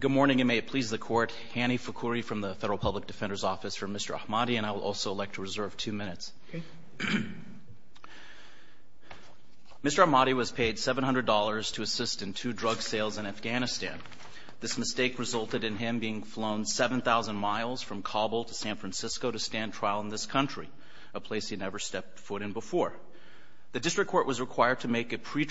Mr. Ahmadi was paid $700 to assist in two drug sales in Afghanistan. This mistake resulted in him being flown 7,000 miles from Kabul to San Francisco to stand trial in this country, a place he had never stepped foot in before. The district court was required to make a decision between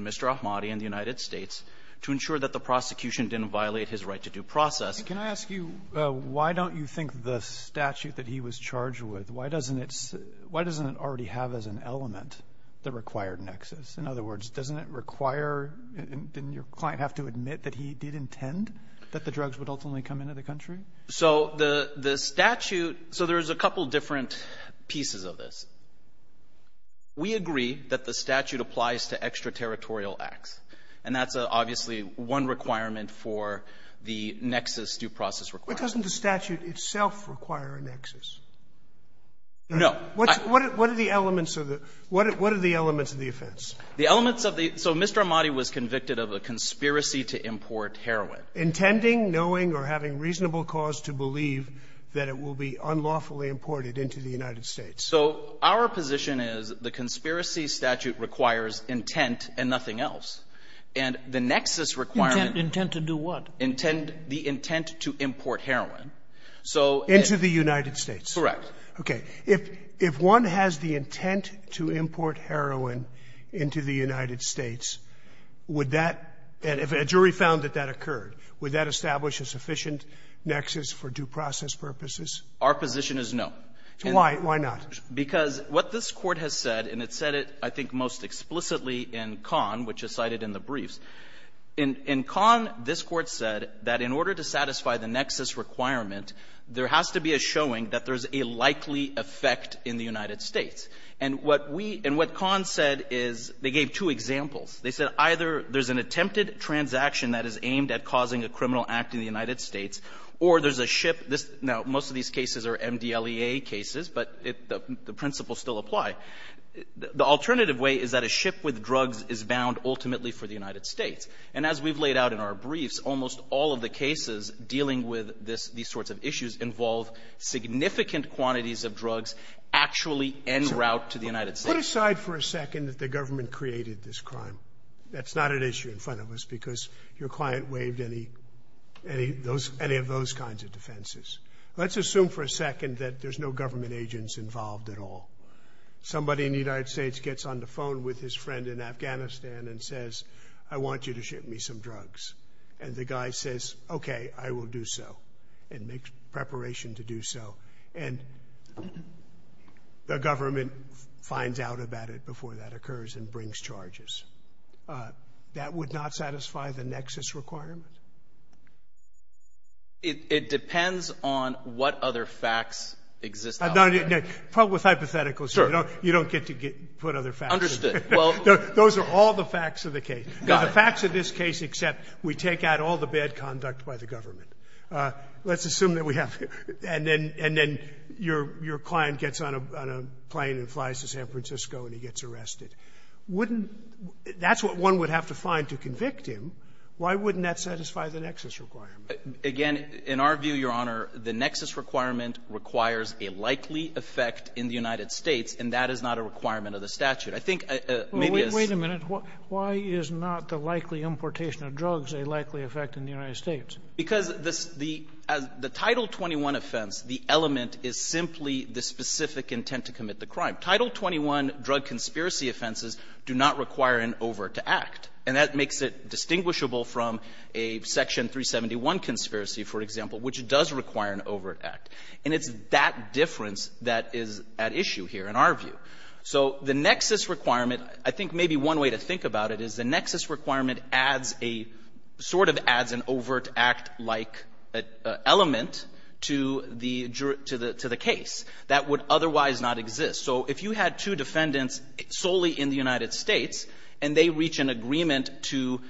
Mr. Ahmadi and the United States to ensure that the prosecution didn't violate his right to due process. Robertson, Jr. Can I ask you, why don't you think the statute that he was charged with, why doesn't it already have as an element the required nexus? In other words, doesn't it require — didn't your client have to admit that he did intend that the drugs would ultimately come into the country? Javed Ahmadi, Jr. So the statute — so there's a couple different pieces of this. We agree that the statute applies to extraterritorial acts, and that's obviously one requirement for the nexus due process requirement. Sotomayor But doesn't the statute itself require a nexus? Javed Ahmadi, Jr. No. Sotomayor What are the elements of the — what are the elements of the offense? Javed Ahmadi, Jr. The elements of the — so Mr. Ahmadi was convicted of a conspiracy to import heroin. Sotomayor Intending, knowing, or having reasonable cause to believe that it will be unlawfully imported into the United States. Javed Ahmadi, Jr. So our position is the conspiracy statute requires intent and nothing else. And the nexus requirement — Sotomayor Intent to do what? Javed Ahmadi, Jr. Intent — the intent to import heroin. Sotomayor Into the United States. Javed Ahmadi, Jr. Correct. Sotomayor Okay. If one has the intent to import heroin into the United States, would that — and if a jury found that that occurred, would that establish a sufficient nexus for due process purposes? Javed Ahmadi, Jr. Our position is no. Sotomayor So why? Javed Ahmadi, Jr. Because what this Court has said, and it said it, I think, most explicitly in Kahn, which is cited in the briefs, in — in Kahn, this Court said that in order to satisfy the nexus requirement, there has to be a showing that there is a likely effect in the United States. And what we — and what Kahn said is — they gave two examples. They said either there's an attempted transaction that is aimed at causing a criminal act in the United States, or there's a ship — now, most of these cases are MDLEA cases, but it — the principles still apply. The alternative way is that a ship with drugs is bound ultimately for the United States. And as we've laid out in our briefs, almost all of the cases dealing with this — these sorts of issues involve significant quantities of drugs actually en route to the United States. Sotomayor Sir, put aside for a second that the government created this crime. That's not an issue in front of us because your client waived any — any of those kinds of defenses. Let's assume for a second that there's no government agents involved at all. Somebody in the United States gets on the phone with his friend in Afghanistan and says, I want you to ship me some drugs. And the guy says, okay, I will do so, and makes preparation to do so. And the government finds out about it before that occurs and brings charges. That would not satisfy the nexus requirement? It — it depends on what other facts exist out there. No, no, no. Probably with hypotheticals, you don't — you don't get to get — put other facts. Understood. Well — Those are all the facts of the case. Got it. The facts of this case except we take out all the bad conduct by the government. Let's assume that we have — and then — and then your — your client gets on a — on a plane and flies to San Francisco and he gets arrested. Wouldn't — that's what one would have to find to convict him. Why wouldn't that satisfy the nexus requirement? Again, in our view, Your Honor, the nexus requirement requires a likely effect in the United States, and that is not a requirement of the statute. I think maybe it's — Wait a minute. Why is not the likely importation of drugs a likely effect in the United States? Because this — the — the Title 21 offense, the element is simply the specific intent to commit the crime. Title 21 drug conspiracy offenses do not require an over-to-act. And that makes it distinguishable from a Section 371 conspiracy, for example, which does require an over-to-act. And it's that difference that is at issue here, in our view. So the nexus requirement, I think maybe one way to think about it is the nexus requirement adds a — sort of adds an over-to-act-like element to the — to the — to the case that would otherwise not exist. So if you had two defendants solely in the United States, and they reach an agreement to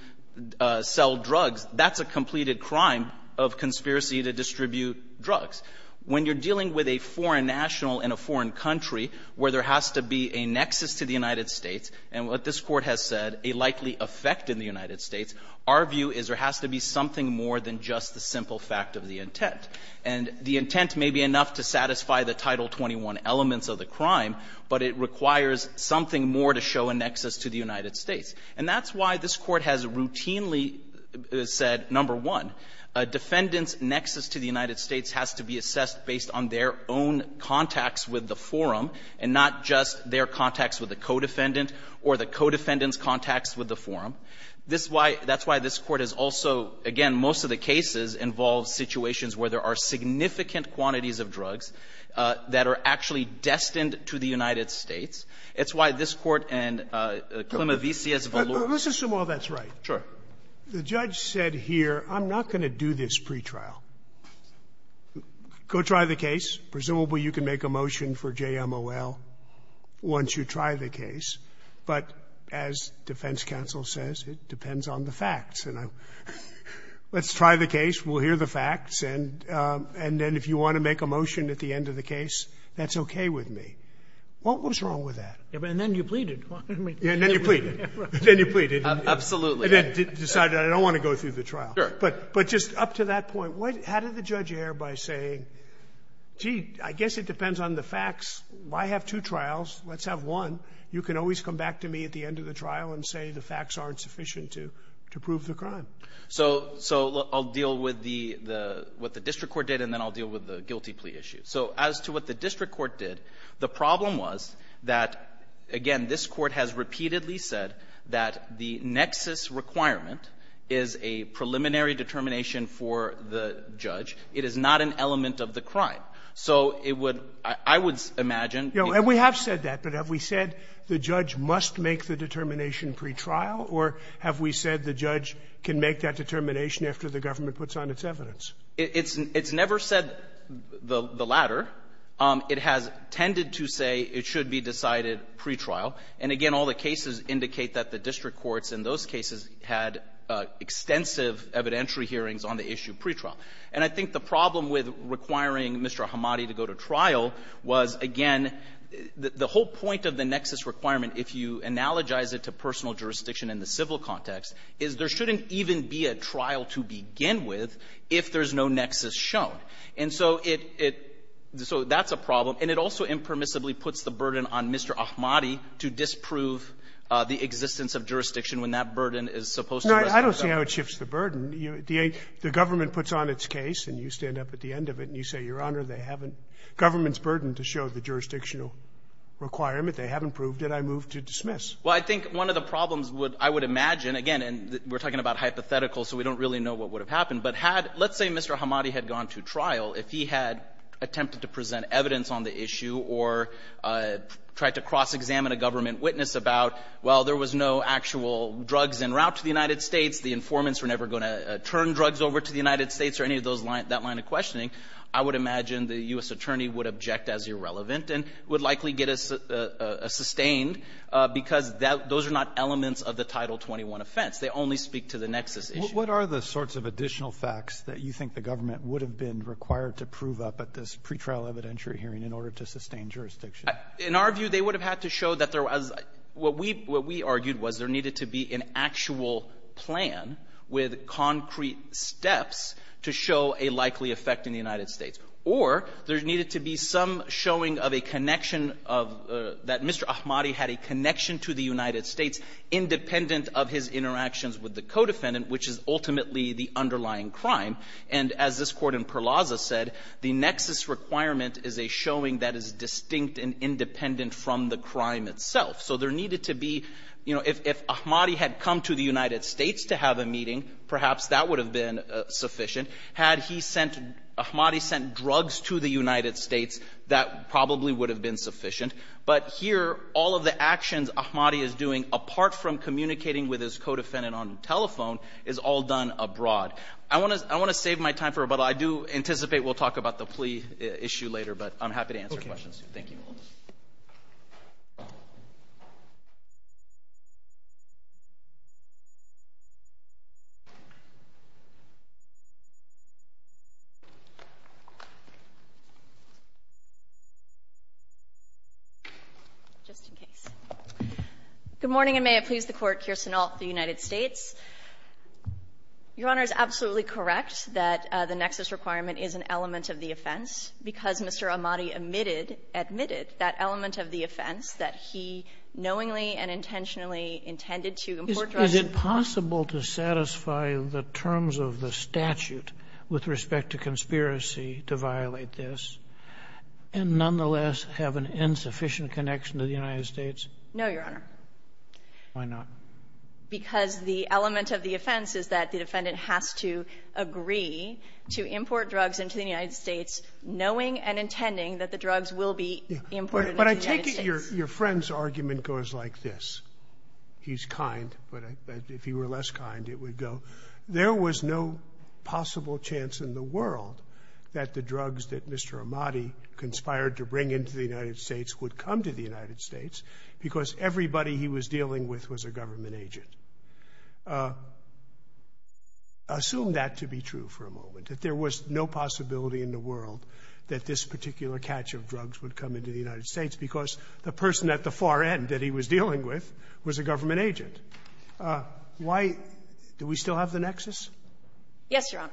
sell drugs, that's a completed crime of conspiracy to distribute drugs. When you're dealing with a foreign national in a foreign country where there has to be a nexus to the United States, and what this Court has said, a likely effect in the United States, our view is there has to be something more than just the simple fact of the intent. And the intent may be enough to satisfy the Title 21 elements of the crime, but it requires something more to show a nexus to the United States. And that's why this Court has routinely said, number one, a defendant's nexus to the United States has to be assessed based on their own contacts with the forum, and not just their contacts with the co-defendant or the co-defendant's contacts with the forum. This is why — that's why this Court has also — again, most of the cases involve situations where there are significant quantities of drugs that are actually destined to the United States. It's why this Court and Klimovici has valued — Sotomayor, let's assume all that's right. Sure. The judge said here, I'm not going to do this pretrial. Go try the case. Presumably, you can make a motion for JMOL once you try the case. But as defense counsel says, it depends on the facts. And let's try the case. We'll hear the facts. And then if you want to make a motion at the end of the case, that's okay with me. What was wrong with that? And then you pleaded. And then you pleaded. Then you pleaded. Absolutely. And then decided I don't want to go through the trial. Sure. But just up to that point, what — how did the judge err by saying, gee, I guess it depends on the facts. I have two trials. Let's have one. You can always come back and say the facts aren't sufficient to prove the crime. So — so I'll deal with the — what the district court did, and then I'll deal with the guilty plea issue. So as to what the district court did, the problem was that, again, this Court has repeatedly said that the nexus requirement is a preliminary determination for the judge. It is not an element of the crime. So it would — I would imagine — You know, and we have said that. But have we said the judge must make the determination pre-trial, or have we said the judge can make that determination after the government puts on its evidence? It's never said the latter. It has tended to say it should be decided pre-trial. And, again, all the cases indicate that the district courts in those cases had extensive evidentiary hearings on the issue pre-trial. And I think the problem with requiring Mr. Ahmadi to go to trial was, again, the whole point of the nexus requirement, if you analogize it to personal jurisdiction in the civil context, is there shouldn't even be a trial to begin with if there's no nexus shown. And so it — so that's a problem. And it also impermissibly puts the burden on Mr. Ahmadi to disprove the existence of jurisdiction when that burden is supposed to rest on the government. No, I don't see how it shifts the burden. The government puts on its case, and you stand up at the end of it, and you say, Your Honor, they haven't — government's jurisdictional requirement. They haven't proved it. I move to dismiss. Well, I think one of the problems would — I would imagine, again, and we're talking about hypotheticals, so we don't really know what would have happened, but had — let's say Mr. Ahmadi had gone to trial. If he had attempted to present evidence on the issue or tried to cross-examine a government witness about, well, there was no actual drugs en route to the United States, the informants were never going to turn drugs over to the United States or any of those — that line of questioning, I would imagine the U.S. attorney would object as irrelevant and would likely get a — a — a — a sustained, because that — those are not elements of the Title 21 offense. They only speak to the nexus issue. What are the sorts of additional facts that you think the government would have been required to prove up at this pretrial evidentiary hearing in order to sustain jurisdiction? In our view, they would have had to show that there was — what we — what we argued was there needed to be an actual plan with concrete steps to show a likely effect in the United States, or there needed to be some showing of a connection of — that Mr. Ahmadi had a connection to the United States independent of his interactions with the co-defendant, which is ultimately the underlying crime. And as this Court in Perlazza said, the nexus requirement is a showing that is distinct and independent from the crime itself. So there needed to be — you know, if Ahmadi had come to the United States to have a meeting, perhaps that would have been sufficient. Had he sent — Ahmadi sent drugs to the United States, that probably would have been sufficient. But here, all of the actions Ahmadi is doing, apart from communicating with his co-defendant on telephone, is all done abroad. I want to — I want to save my time for a — but I do anticipate we'll talk about the plea issue later, but I'm happy to answer questions. Thank you. Just in case. Good morning, and may it please the Court. Kirsten Alt for the United States. Your Honor is absolutely correct that the nexus requirement is an element of the offense because Mr. Ahmadi omitted — admitted that element of the offense that he knowingly and intentionally intended to import drugs to the United States. Is it possible to satisfy the terms of the statute with respect to conspiracy to violate this and nonetheless have an insufficient connection to the United States? No, Your Honor. Why not? Because the element of the offense is that the defendant has to agree to import drugs into the United States knowing and intending that the drugs will be imported into the United States. But I take it your friend's argument goes like this. He's kind, but if he were less kind it would go, there was no possible chance in the world that the drugs that Mr. Ahmadi conspired to bring into the United States would come to the United States because everybody he was dealing with was a government agent. Assume that to be true for a moment, that there was no possibility in the world that this particular catch of drugs would come into the United States because the person at the far end that he was dealing with was a government agent. Why do we still have the nexus? Yes, Your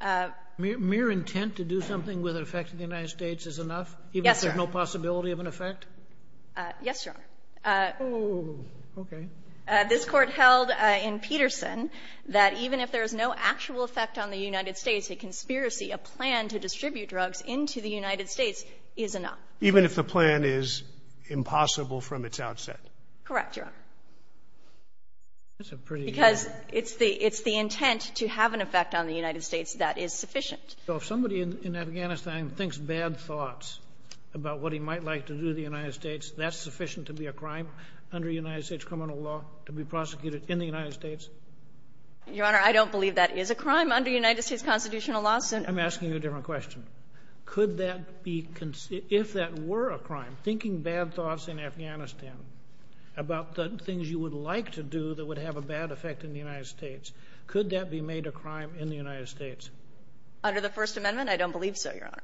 Honor. Mere intent to do something with an effect in the United States is enough? Yes, Your Honor. Even if there's no possibility of an effect? Yes, Your Honor. Oh, okay. This Court held in Peterson that even if there is no actual effect on the United States, a conspiracy, a plan to distribute drugs into the United States is enough. Even if the plan is impossible from its outset? Correct, Your Honor. That's a pretty good point. Because it's the intent to have an effect on the United States that is sufficient. So if somebody in Afghanistan thinks bad thoughts about what he might like to do to the United States, that's sufficient to be a crime under United States criminal law, to be prosecuted in the United States? Your Honor, I don't believe that is a crime under United States constitutional law. I'm asking you a different question. Could that be considered, if that were a crime, thinking bad thoughts in Afghanistan about the things you would like to do that would have a bad effect in the United States, could that be made a crime in the United States? Under the First Amendment, I don't believe so, Your Honor.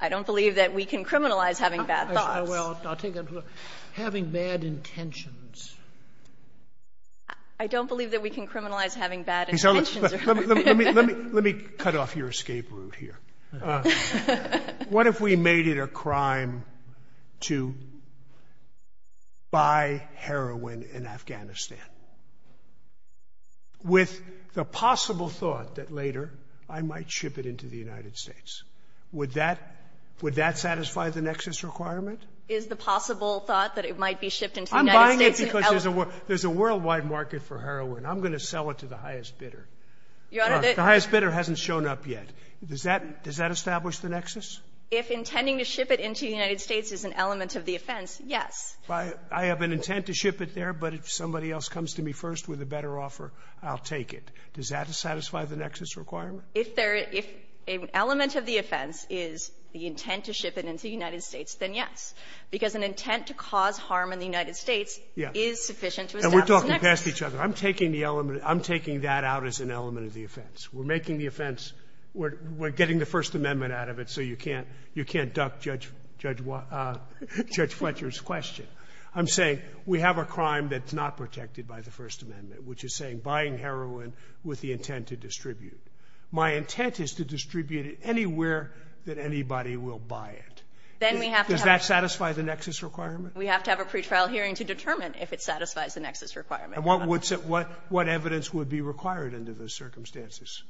I don't believe that we can criminalize having bad thoughts. Well, I'll take that. Having bad intentions. I don't believe that we can criminalize having bad intentions, Your Honor. Let me cut off your escape route here. What if we made it a crime to buy heroin in Afghanistan with the possible thought that later I might ship it into the United States? Would that satisfy the nexus requirement? Is the possible thought that it might be shipped into the United States? Because there's a worldwide market for heroin. I'm going to sell it to the highest bidder. Your Honor, the highest bidder hasn't shown up yet. Does that establish the nexus? If intending to ship it into the United States is an element of the offense, yes. I have an intent to ship it there, but if somebody else comes to me first with a better offer, I'll take it. Does that satisfy the nexus requirement? If an element of the offense is the intent to ship it into the United States, then yes. Because an intent to cause harm in the United States is sufficient to establish the nexus. Scalia. And we're talking past each other. I'm taking the element. I'm taking that out as an element of the offense. We're making the offense. We're getting the First Amendment out of it, so you can't duck Judge Fletcher's question. I'm saying we have a crime that's not protected by the First Amendment, which is saying buying heroin with the intent to distribute. My intent is to distribute it anywhere that anybody will buy it. Does that satisfy the nexus requirement? We have to have a pretrial hearing to determine if it satisfies the nexus requirement. And what would be required under those circumstances?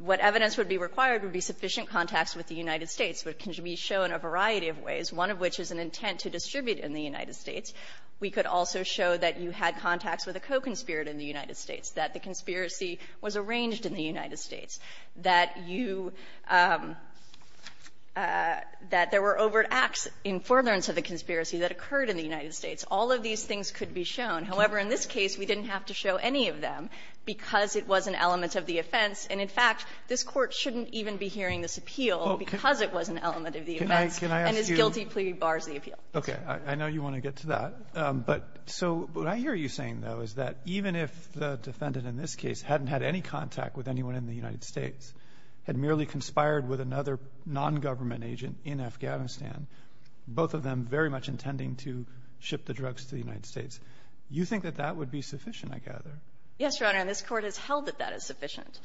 What evidence would be required would be sufficient contacts with the United States. It can be shown in a variety of ways, one of which is an intent to distribute in the United States. We could also show that you had contacts with a co-conspirator in the United States, that the conspiracy was arranged in the United States, that you – that there was overt acts in forbearance of the conspiracy that occurred in the United States. All of these things could be shown. However, in this case, we didn't have to show any of them because it was an element of the offense. And, in fact, this Court shouldn't even be hearing this appeal because it was an element of the offense. And this guilty plea bars the appeal. Robertson, I know you want to get to that. But so what I hear you saying, though, is that even if the defendant in this case hadn't had any contact with anyone in the United States, had merely conspired with another nongovernment agent in Afghanistan, both of them very much intending to ship the drugs to the United States, you think that that would be sufficient, I gather. Yes, Your Honor. And this Court has held that that is sufficient.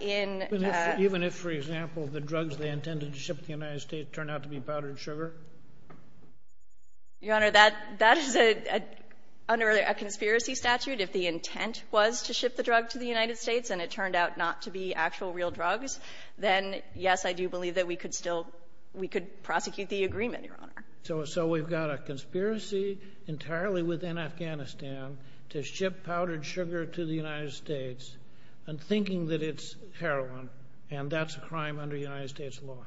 In the next one, even if, for example, the drugs they intended to ship to the United States turned out to be powdered sugar? Your Honor, that – that is a – under a conspiracy statute, if the intent was to ship the drug to the United States and it turned out not to be actual real drugs, then yes, I do believe that we could still – we could prosecute the agreement, Your Honor. So – so we've got a conspiracy entirely within Afghanistan to ship powdered sugar to the United States, and thinking that it's heroin, and that's a crime under United States law.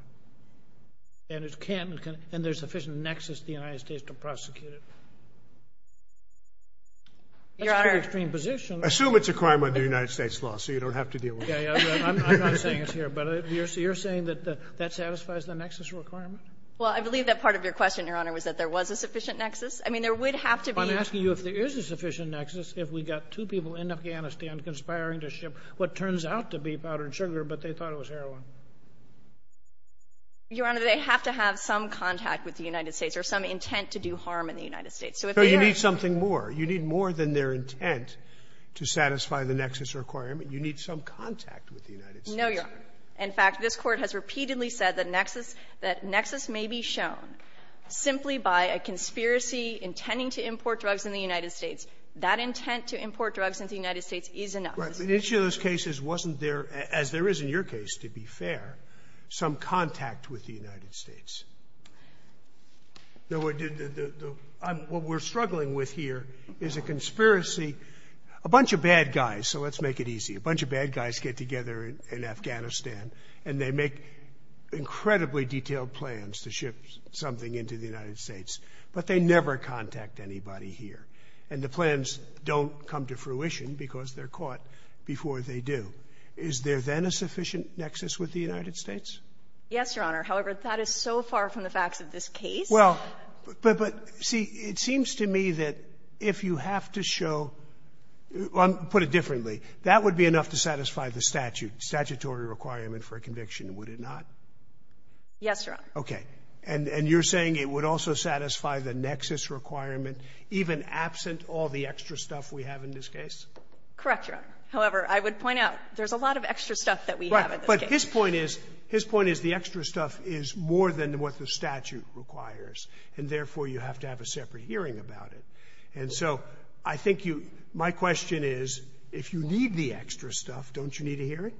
And it can't – and there's sufficient nexus to the United States to prosecute it. Your Honor. That's a very extreme position. Assume it's a crime under United States law, so you don't have to deal with it. Okay. I'm not saying it's here, but you're saying that that satisfies the nexus requirement? Well, I believe that part of your question, Your Honor, was that there was a sufficient nexus. I mean, there would have to be – I'm asking you if there is a sufficient nexus if we got two people in Afghanistan conspiring to ship what turns out to be powdered sugar, but they thought it was heroin. Your Honor, they have to have some contact with the United States or some intent to do harm in the United States. So if they are – But you need something more. You need more than their intent to satisfy the nexus requirement. You need some contact with the United States. No, Your Honor. In fact, this Court has repeatedly said that nexus – that nexus may be shown simply by a conspiracy intending to import drugs in the United States. That intent to import drugs into the United States is enough. Right. But each of those cases wasn't there, as there is in your case, to be fair, some contact with the United States. What we're struggling with here is a conspiracy – a bunch of bad guys, so let's make it easy – a bunch of bad guys get together in Afghanistan and they make incredibly detailed plans to ship something into the United States, but they never contact anybody here. And the plans don't come to fruition because they're caught before they do. Is there then a sufficient nexus with the United States? Yes, Your Honor. However, that is so far from the facts of this case. Well, but see, it seems to me that if you have to show – put it differently. That would be enough to satisfy the statute, statutory requirement for a conviction, would it not? Yes, Your Honor. Okay. And you're saying it would also satisfy the nexus requirement even absent all the extra stuff we have in this case? Correct, Your Honor. However, I would point out there's a lot of extra stuff that we have in this case. Right. But his point is – his point is the extra stuff is more than what the statute requires, and therefore you have to have a separate hearing about it. And so I think you – my question is, if you need the extra stuff, don't you need a hearing?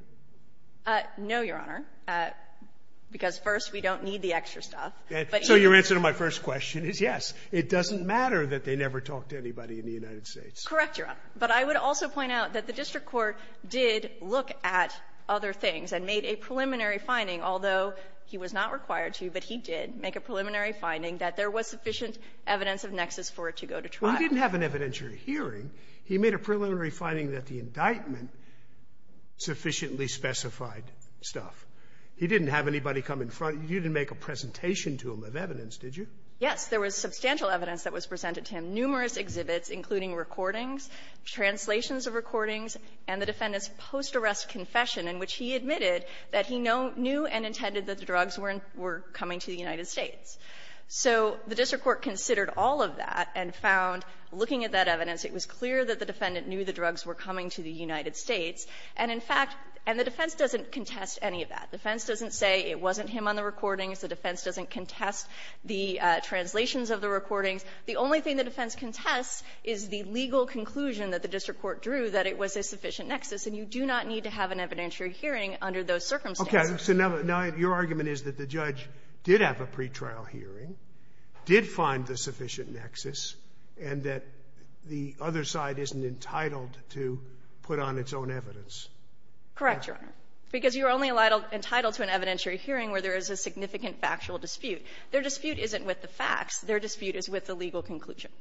No, Your Honor, because first, we don't need the extra stuff. So your answer to my first question is yes. It doesn't matter that they never talked to anybody in the United States. Correct, Your Honor. But I would also point out that the district court did look at other things and made a preliminary finding, although he was not required to, but he did make a preliminary finding that there was sufficient evidence of nexus for it to go to trial. You didn't have an evidentiary hearing. He made a preliminary finding that the indictment sufficiently specified stuff. He didn't have anybody come in front. You didn't make a presentation to him of evidence, did you? Yes. There was substantial evidence that was presented to him, numerous exhibits, including recordings, translations of recordings, and the defendant's post-arrest confession in which he admitted that he knew and intended that the drugs weren't were coming to the United States. So the district court considered all of that and found, looking at that evidence, it was clear that the defendant knew the drugs were coming to the United States. And, in fact, and the defense doesn't contest any of that. The defense doesn't say it wasn't him on the recordings. The defense doesn't contest the translations of the recordings. The only thing the defense contests is the legal conclusion that the district court drew that it was a sufficient nexus, and you do not need to have an evidentiary hearing under those circumstances. Okay. So now your argument is that the judge did have a pretrial hearing, did find the sufficient nexus, and that the other side isn't entitled to put on its own evidence. Correct, Your Honor. Because you're only entitled to an evidentiary hearing where there is a significant factual dispute. Their dispute isn't with the facts. Their dispute is with the legal conclusion.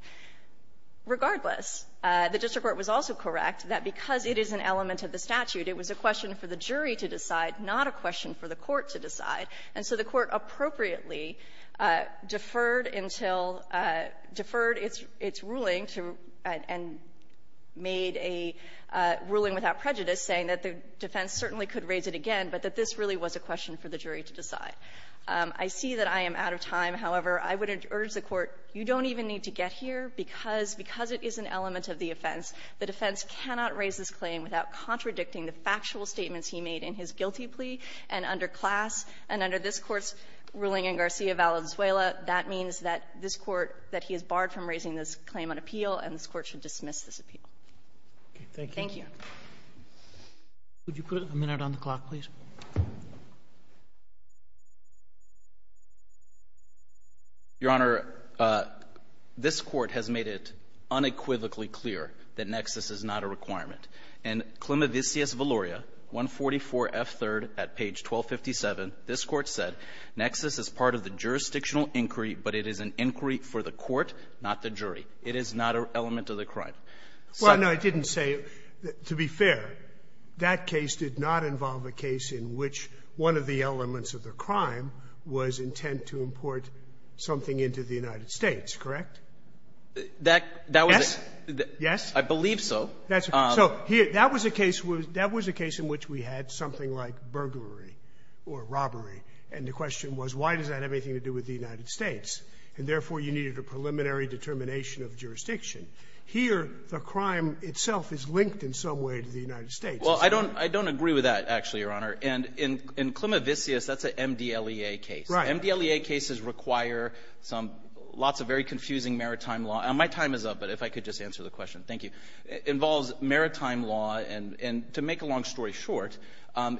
Regardless, the district court was also correct that because it is an element of the statute, it was a question for the jury to decide, not a question for the court to decide. And so the court appropriately deferred until – deferred its ruling and made a ruling without prejudice, saying that the defense certainly could raise it again, but that this really was a question for the jury to decide. I see that I am out of time. However, I would urge the Court, you don't even need to get here because it is an element of the offense. The defense cannot raise this claim without contradicting the factual statements he made in his guilty plea and under class. And under this Court's ruling in Garcia Valenzuela, that means that this Court, that he is barred from raising this claim on appeal, and this Court should dismiss this appeal. Thank you. Would you put a minute on the clock, please? Your Honor, this Court has made it unequivocally clear that nexus is not a requirement. In Clemenvisius Valoria, 144F3rd at page 1257, this Court said, nexus is part of the jurisdictional inquiry, but it is an inquiry for the court, not the jury. It is not an element of the crime. Well, no, it didn't say. To be fair, that case did not involve a case in which one of the elements of the crime was intent to import something into the United States, correct? That was a case that was a case in which we had something like burglary or robbery, and the question was, why does that have anything to do with the United States? And therefore, you needed a preliminary determination of jurisdiction. Here, the crime itself is linked in some way to the United States. Well, I don't agree with that, actually, Your Honor. And in Clemenvisius, that's an MDLEA case. Right. MDLEA cases require some lots of very confusing maritime law. My time is up, but if I could just answer the question. Thank you. It involves maritime law, and to make a long story short,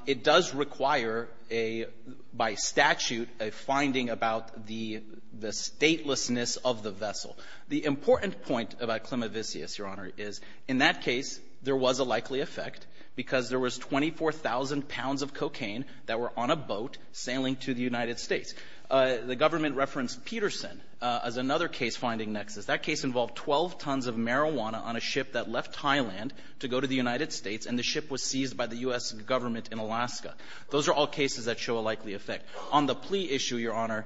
it does require a, by statute, a finding about the statelessness of the vessel. The important point about Clemenvisius, Your Honor, is in that case, there was a likely effect because there was 24,000 pounds of cocaine that were on a boat sailing to the United States. The government referenced Peterson as another case finding nexus. That case involved 12 tons of marijuana on a ship that left Thailand to go to the United States, and the ship was seized by the U.S. Government in Alaska. Those are all cases that show a likely effect. On the plea issue, Your Honor,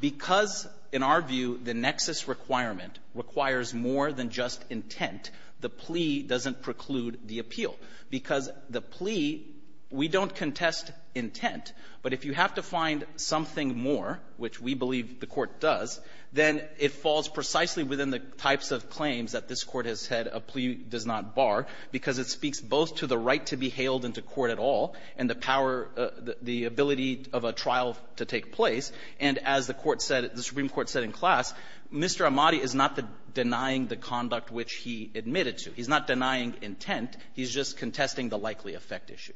because, in our view, the nexus requirement requires more than just intent, the plea doesn't preclude the appeal. Because the plea, we don't contest intent, but if you have to find something more, which we believe the Court does, then it falls precisely within the types of claims that this Court has said a plea does not bar because it speaks both to the ability of a trial to take place, and as the Supreme Court said in class, Mr. Amati is not denying the conduct which he admitted to. He's not denying intent. He's just contesting the likely effect issue.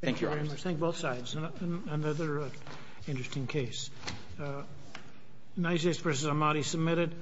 Thank you, Your Honor. Thank you very much. Thank you, both sides. Another interesting case. United States v. Amati submitted.